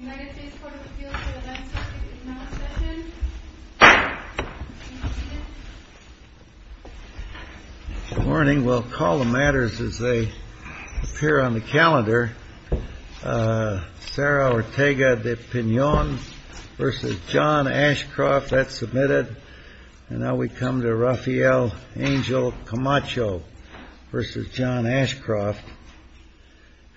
Good morning. We'll call the matters as they appear on the calendar. Sarah Ortega de Pinon v. John Ashcroft, that's submitted. And now we come to Rafael Angel Camacho v. John Ashcroft.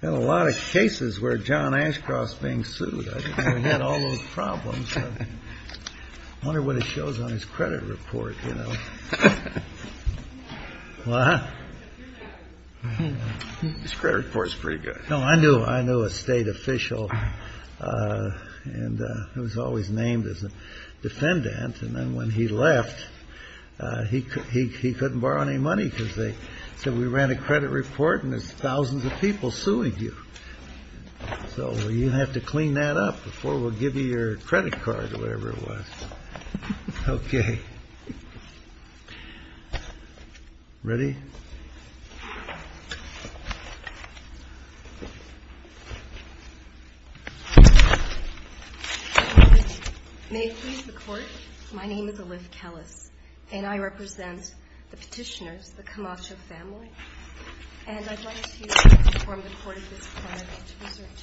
And a lot of cases where John Ashcroft's being sued. I had all those problems. I wonder what it shows on his credit report. This credit report is pretty good. No, I knew I knew a state official. And it was always named as a defendant. And then when he left, he he couldn't borrow any money because they said we ran a credit report. And there's thousands of people suing you. So you have to clean that up before we'll give you your credit card or whatever it was. OK. Ready? May it please the Court. My name is Alif Kellis, and I represent the petitioners, the Camacho family. And I'd like to inform the Court of this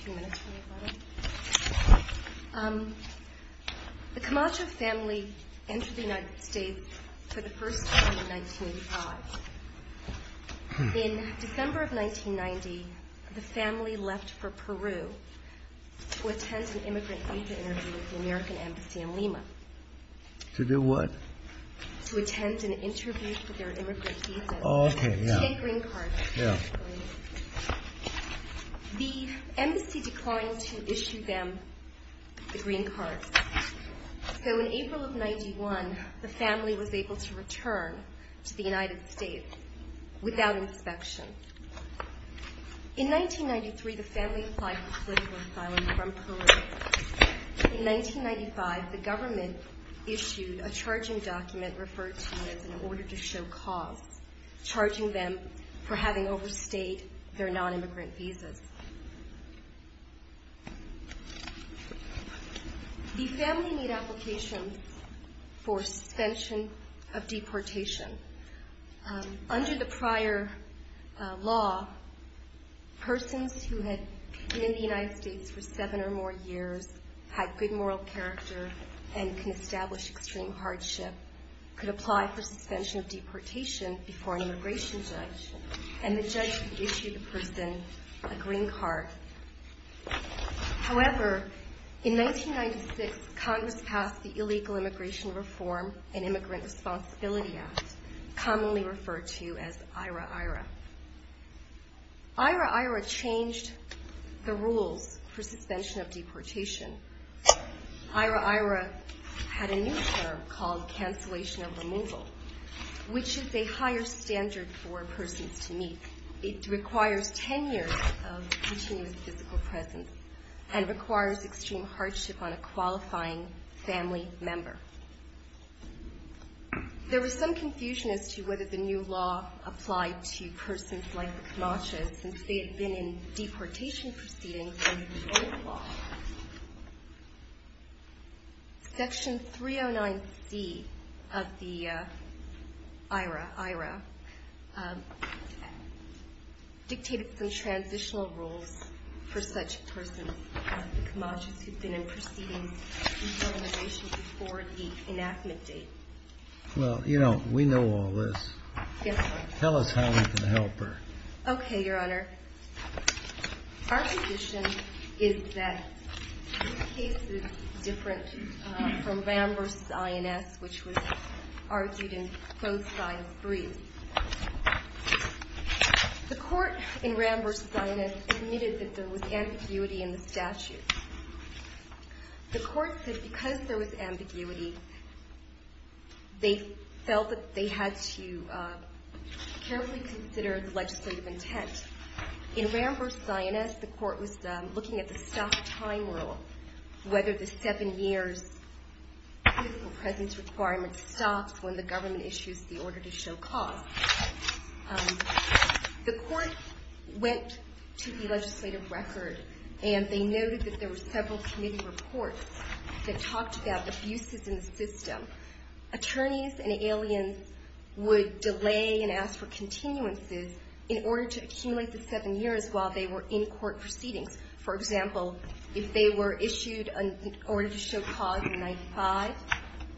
claim. The Camacho family entered the United States for the first time in 1985. In December of 1990, the family left for Peru to attend an immigrant visa interview at the American Embassy in Lima. To do what? To attend an interview for their immigrant visa. Oh, OK. Yeah. The embassy declined to issue them the green cards. So in April of 91, the family was able to return to the United States without inspection. In 1993, the family applied for political asylum from Peru. In 1995, the government issued a charging document referred to as an order to show cause, charging them for having overstayed their nonimmigrant visas. The family made applications for suspension of deportation. Under the prior law, persons who had been in the United States for seven or more years, had good moral character, and can establish extreme hardship, could apply for suspension of deportation before an immigration judge, and the judge could issue the person a green card. However, in 1996, Congress passed the Illegal Immigration Reform and Immigrant Responsibility Act, commonly referred to as IHRA-IHRA. IHRA-IHRA changed the rules for suspension of deportation. IHRA-IHRA had a new term called cancellation of removal, which is a higher standard for persons to meet. It requires 10 years of continuous physical presence, and requires extreme hardship on a qualifying family member. There was some confusion as to whether the new law applied to persons like the Kanasha, since they had been in deportation proceedings under the old law. Section 309C of the IHRA-IHRA dictated some transitional rules for such persons as the Kanashas, who had been in proceedings before the enactment date. Well, you know, we know all this. Yes, Your Honor. Tell us how we can help her. Okay, Your Honor. Our position is that this case is different from Ram v. INS, which was argued in both sides. The court in Ram v. INS admitted that there was ambiguity in the statute. They felt that they had to carefully consider the legislative intent. In Ram v. INS, the court was looking at the stop time rule, whether the seven years physical presence requirement stops when the government issues the order to show cause. The court went to the legislative record, and they noted that there were several committee reports that talked about abuses in the system. Attorneys and aliens would delay and ask for continuances in order to accumulate the seven years while they were in court proceedings. For example, if they were issued an order to show cause in 95,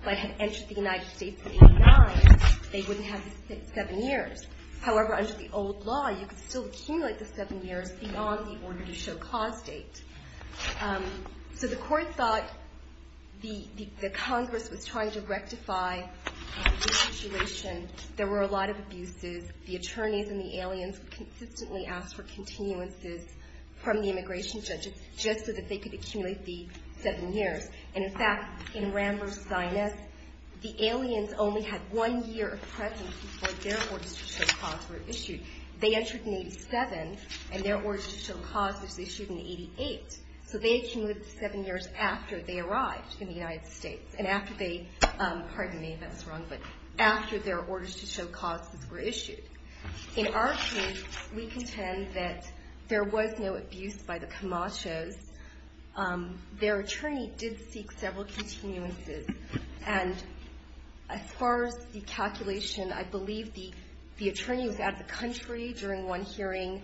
but had entered the United States in 89, they wouldn't have the seven years. However, under the old law, you could still accumulate the seven years beyond the order to show cause date. So the court thought the Congress was trying to rectify the situation. There were a lot of abuses. The attorneys and the aliens consistently asked for continuances from the immigration judges just so that they could accumulate the seven years. In fact, in Ram v. INS, the aliens only had one year of presence before their orders to show cause were issued. They entered in 87, and their orders to show cause was issued in 88. So they accumulated the seven years after they arrived in the United States. Pardon me if I was wrong, but after their orders to show causes were issued. In our case, we contend that there was no abuse by the Camachos. In our case, their attorney did seek several continuances. And as far as the calculation, I believe the attorney was out of the country during one hearing.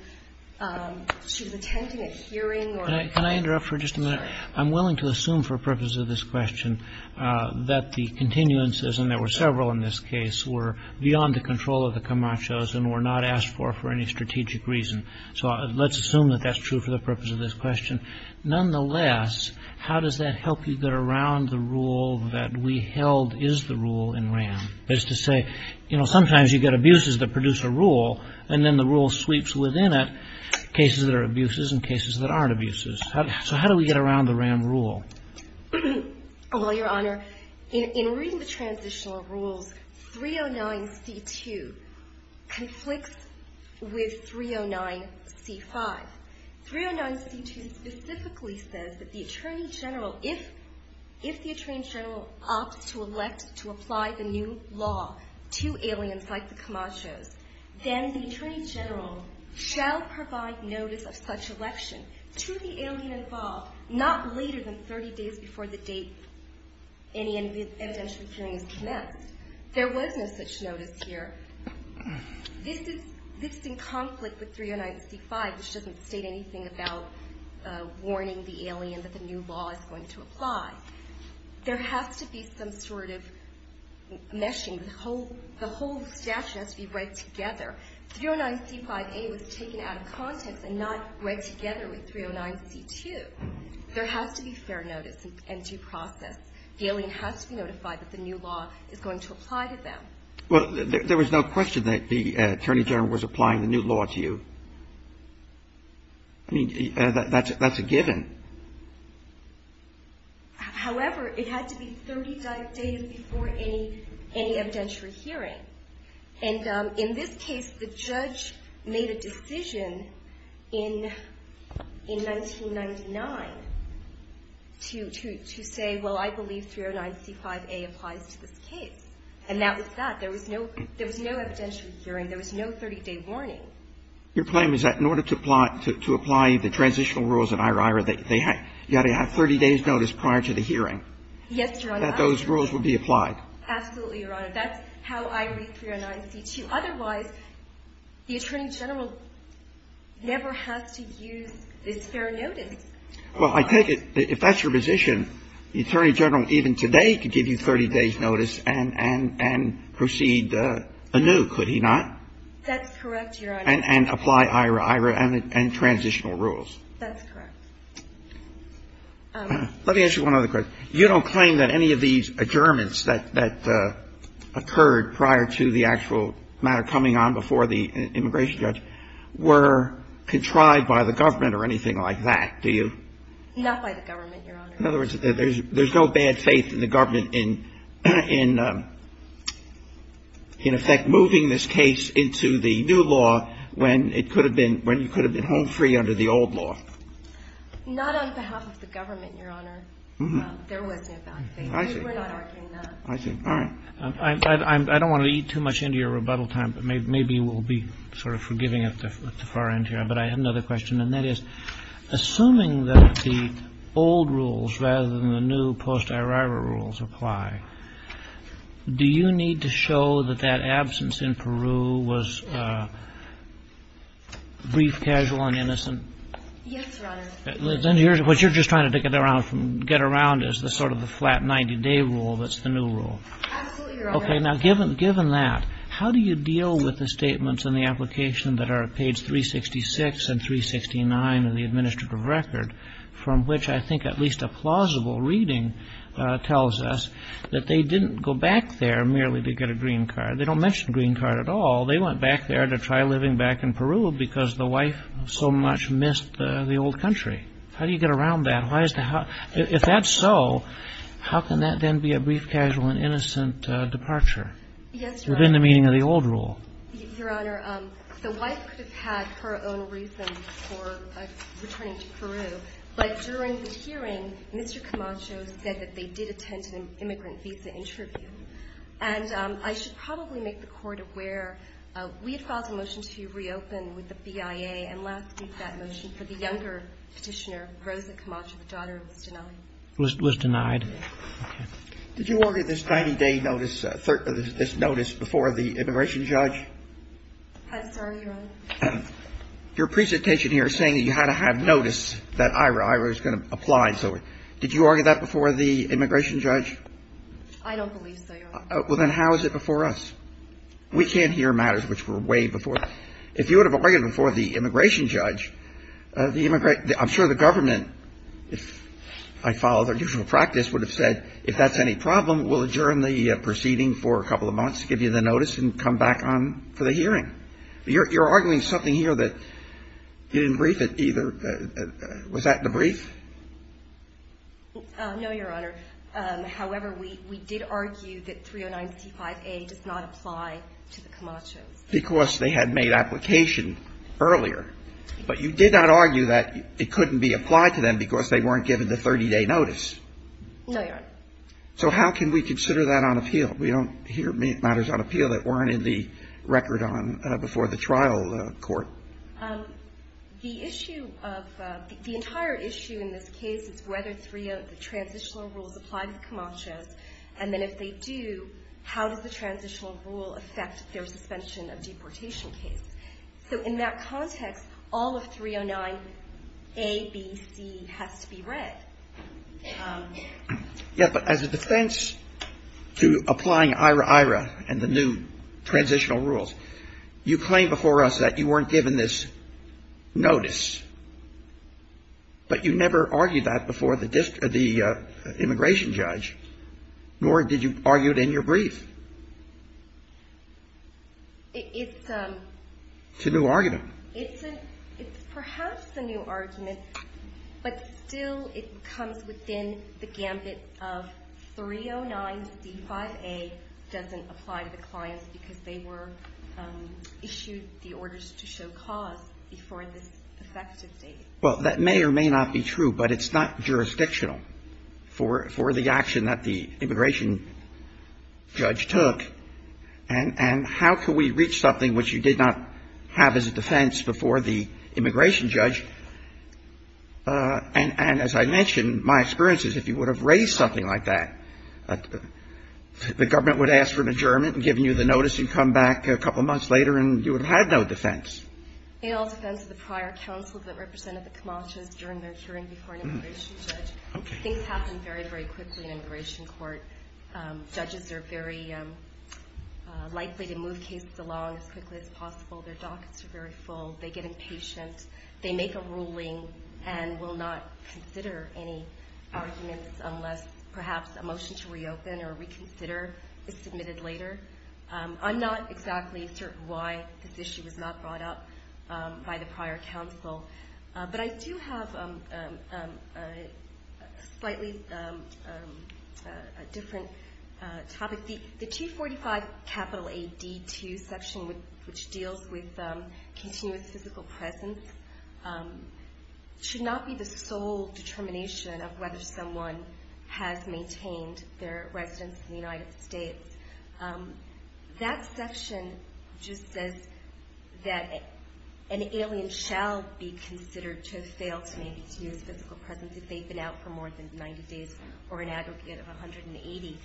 She was attending a hearing or a hearing. Can I interrupt for just a minute? I'm willing to assume for purposes of this question that the continuances, and there were several in this case, were beyond the control of the Camachos and were not asked for for any strategic reason. So let's assume that that's true for the purpose of this question. Nonetheless, how does that help you get around the rule that we held is the rule in Ram? That is to say, you know, sometimes you get abuses that produce a rule, and then the rule sweeps within it cases that are abuses and cases that aren't abuses. So how do we get around the Ram rule? Well, Your Honor, in reading the transitional rules, 309C2 conflicts with 309C5. 309C2 specifically says that the attorney general, if the attorney general opts to elect to apply the new law to aliens like the Camachos, then the attorney general shall provide notice of such election to the alien involved not later than 30 days before the date any evidentiary hearing is commenced. There was no such notice here. This is in conflict with 309C5, which doesn't state anything about warning the alien that the new law is going to apply. There has to be some sort of meshing. The whole statute has to be read together. 309C5A was taken out of context and not read together with 309C2. There has to be fair notice and due process. The alien has to be notified that the new law is going to apply to them. Well, there was no question that the attorney general was applying the new law to you. I mean, that's a given. However, it had to be 30 days before any evidentiary hearing. And in this case, the judge made a decision in 1999 to say, well, I believe 309C5A applies to this case. And that was that. There was no evidentiary hearing. There was no 30-day warning. Your claim is that in order to apply the transitional rules in IRAIRA, you had to have 30 days' notice prior to the hearing. Yes, Your Honor. That those rules would be applied. Absolutely, Your Honor. That's how I read 309C2. Otherwise, the attorney general never has to use this fair notice. Well, I take it, if that's your position, the attorney general even today could give you 30 days' notice and proceed anew, could he not? That's correct, Your Honor. And apply IRAIRA and transitional rules. That's correct. Let me ask you one other question. You don't claim that any of these adjournments that occurred prior to the actual matter coming on before the immigration judge were contrived by the government or anything like that, do you? Not by the government, Your Honor. In other words, there's no bad faith in the government in, in effect, moving this case into the new law when it could have been, when you could have been home free under the old law. Not on behalf of the government, Your Honor. There was no bad faith. We were not arguing that. I see. All right. I don't want to eat too much into your rebuttal time, but maybe we'll be sort of forgiving at the far end here. But I have another question, and that is, assuming that the old rules rather than the new post-IRAIRA rules apply, do you need to show that that absence in Peru was brief, casual, and innocent? Yes, Your Honor. What you're just trying to get around is the sort of the flat 90-day rule that's the new rule. Absolutely, Your Honor. Okay. Now, given that, how do you deal with the statements in the application that are at page 366 and 369 of the administrative record, from which I think at least a plausible reading tells us that they didn't go back there merely to get a green card. They don't mention a green card at all. They went back there to try living back in Peru because the wife so much missed the old country. How do you get around that? If that's so, how can that then be a brief, casual, and innocent departure? Yes, Your Honor. Within the meaning of the old rule. Your Honor, the wife could have had her own reasons for returning to Peru. But during the hearing, Mr. Camacho said that they did attend an immigrant visa interview. And I should probably make the Court aware, we had filed a motion to reopen with the BIA, and last week that motion for the younger Petitioner, Rosa Camacho, the daughter, was denied. Was denied. Okay. Did you argue this 90-day notice, this notice before the immigration judge? I'm sorry, Your Honor? Your presentation here is saying that you had to have notice that Ira Ira is going Did you argue that before the immigration judge? I don't believe so. Well, then how is it before us? We can't hear matters which were way before. If you would have argued before the immigration judge, the immigrant I'm sure the government, if I follow their usual practice, would have said if that's any problem, we'll adjourn the proceeding for a couple of months to give you the notice and come back on for the hearing. You're arguing something here that you didn't brief it either. Was that the brief? No, Your Honor. We did argue that 309C5A does not apply to the Camachos. Because they had made application earlier. But you did not argue that it couldn't be applied to them because they weren't given the 30-day notice. No, Your Honor. So how can we consider that on appeal? We don't hear matters on appeal that weren't in the record before the trial court. The issue of the entire issue in this case is whether the transitional rules apply to the Camachos. And then if they do, how does the transitional rule affect their suspension of deportation case? So in that context, all of 309A, B, C has to be read. Yes, but as a defense to applying IRA-IRA and the new transitional rules, you claim before us that you weren't given this notice. But you never argued that before the immigration judge, nor did you argue it in your brief. It's a new argument. It's perhaps a new argument, but still it comes within the gambit of 309C5A doesn't apply to the clients because they were issued the orders to show cause before this effective date. Well, that may or may not be true, but it's not jurisdictional for the action that the immigration judge took. And how can we reach something which you did not have as a defense before the immigration judge? And as I mentioned, my experience is if you would have raised something like that, the government would ask for an adjournment and given you the notice and come back a couple months later and you would have had no defense. In all defense of the prior counsel that represented the Camachos during their hearing before an immigration judge, things happen very, very quickly in immigration court. Judges are very likely to move cases along as quickly as possible. Their dockets are very full. They get impatient. They make a ruling and will not consider any arguments unless perhaps a motion to reopen or reconsider is submitted later. I'm not exactly certain why this issue was not brought up by the prior counsel, but I do have a slightly different topic. The 245 capital AD2 section, which deals with continuous physical presence, should not be the sole determination of whether someone has maintained their residence in the United States. That section just says that an alien shall be considered to have failed to maintain physical presence if they've been out for more than 90 days or an aggregate of 180.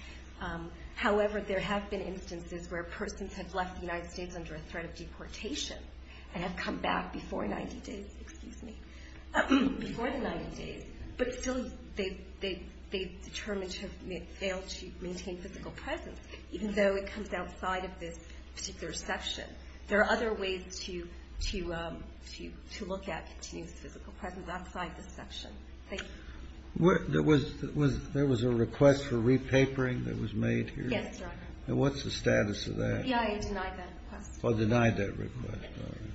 However, there have been instances where persons have left the United States under a threat of deportation and have come back before the 90 days, but still they've determined to have failed to maintain physical presence, even though it comes outside of this particular section. There are other ways to look at continuous physical presence outside this section. Thank you. There was a request for repapering that was made here? Yes, Your Honor. And what's the status of that? The PIA denied that request. Denied that request.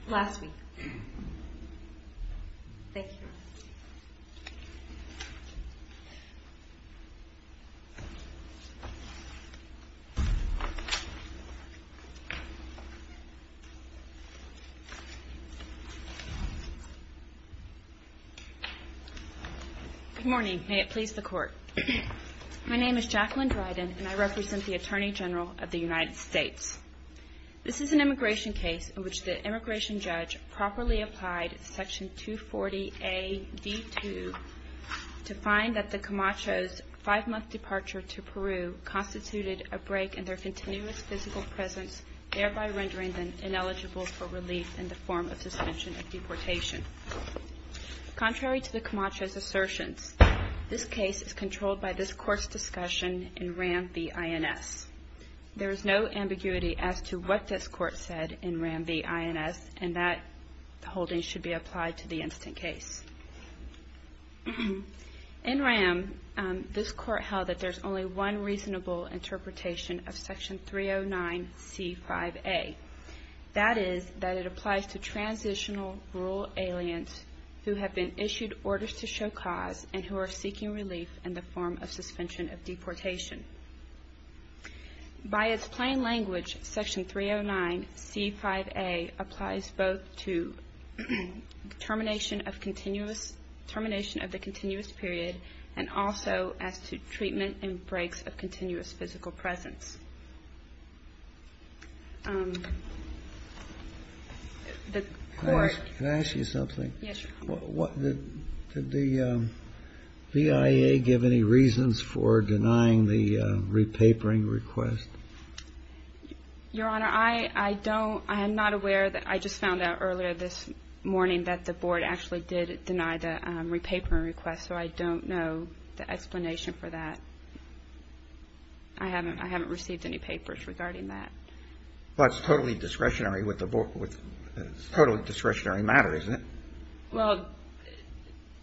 Last week. Thank you. Good morning. May it please the Court. My name is Jacqueline Dryden, and I represent the Attorney General of the United States. This is an immigration case in which the immigration judge properly applied Section 240AD2 to find that the Camachos' five-month departure to Peru constituted a break in their continuous physical presence, thereby rendering them ineligible for relief in the form of suspension of deportation. Contrary to the Camachos' assertions, this case is controlled by this Court's discussion in RAM v. INS. There is no ambiguity as to what this Court said in RAM v. INS, and that holding should be applied to the instant case. In RAM, this Court held that there's only one reasonable interpretation of Section 309C5A. That is that it applies to transitional rural aliens who have been issued orders to show cause and who are seeking relief in the form of suspension of deportation. By its plain language, Section 309C5A applies both to termination of the continuous period and also as to treatment and breaks of continuous physical presence. The Court… Can I ask you something? Yes, Your Honor. Did the BIA give any reasons for denying the repapering request? Your Honor, I don't… I am not aware… I just found out earlier this morning that the Board actually did deny the repapering request, so I don't know the explanation for that. I haven't received any papers regarding that. Well, it's totally discretionary with the… totally discretionary matter, isn't it? Well,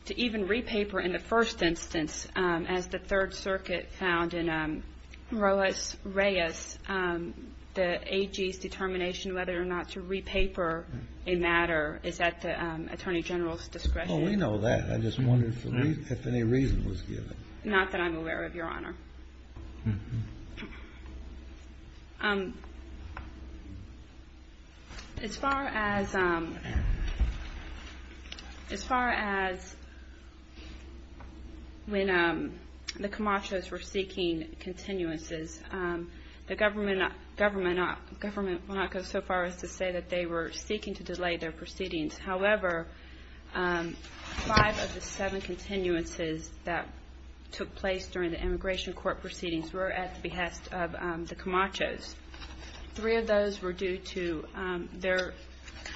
to even repaper in the first instance, as the Third Circuit found in Roas Reyes, the AG's determination whether or not to repaper a matter is at the Attorney General's discretion. Well, we know that. I just wondered if any reason was given. Not that I'm aware of, Your Honor. As far as when the Camachos were seeking continuances, the government will not go so far as to say that they were seeking to delay their proceedings. However, five of the seven continuances that took place during the immigration court proceedings were at the behest of the Camachos. Three of those were due to their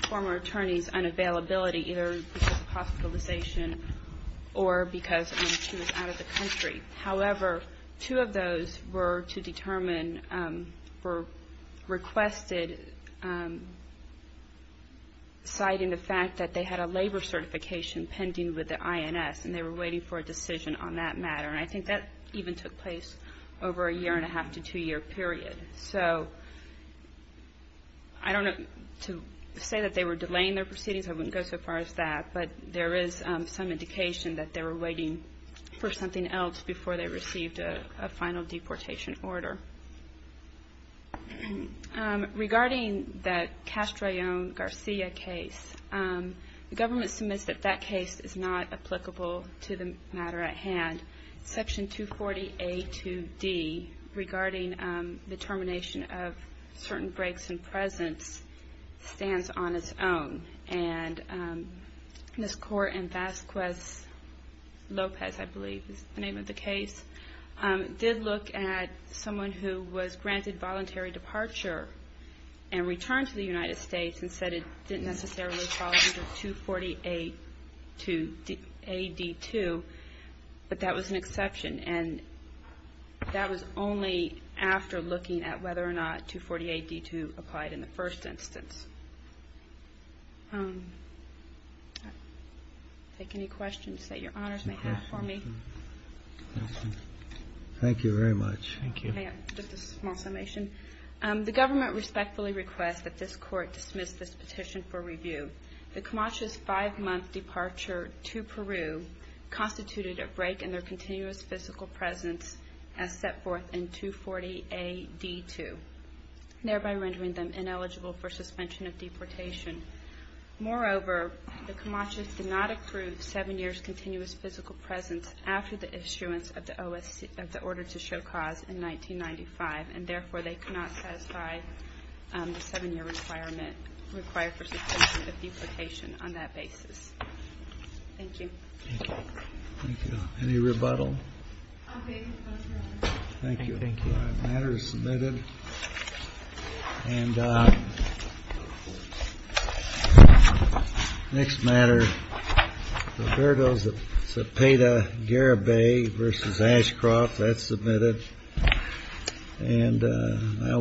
former attorney's unavailability, either because of hospitalization or because she was out of the country. However, two of those were to determine, were requested, citing the fact that they had a labor certification pending with the INS, and they were waiting for a decision on that matter. And I think that even took place over a year-and-a-half to two-year period. So I don't know to say that they were delaying their proceedings. I wouldn't go so far as that. But there is some indication that they were waiting for something else before they received a final deportation order. Regarding the Castrillon-Garcia case, the government submits that that case is not applicable to the matter at hand. Section 240A2D, regarding the termination of certain breaks in presence, stands on its own. And Ms. Kaur and Vasquez-Lopez, I believe is the name of the case, did look at someone who was granted voluntary departure and returned to the United States and said it didn't necessarily fall under 240A2D2. But that was an exception. And that was only after looking at whether or not 248D2 applied in the first instance. I'll take any questions that Your Honors may have for me. Thank you very much. Thank you. Just a small summation. The government respectfully requests that this Court dismiss this petition for review. The Camachos' five-month departure to Peru constituted a break in their continuous physical presence as set forth in 240AD2, thereby rendering them ineligible for suspension of deportation. Moreover, the Camachos did not approve seven years' continuous physical presence after the issuance of the Order to Show Cause in 1995, and therefore they cannot satisfy the seven-year requirement required for suspension of deportation on that basis. Thank you. Thank you. Any rebuttal? I'll take the motion. Thank you. Thank you. The matter is submitted. And next matter, Roberto Zepeda-Garabay v. Ashcroft. That's submitted.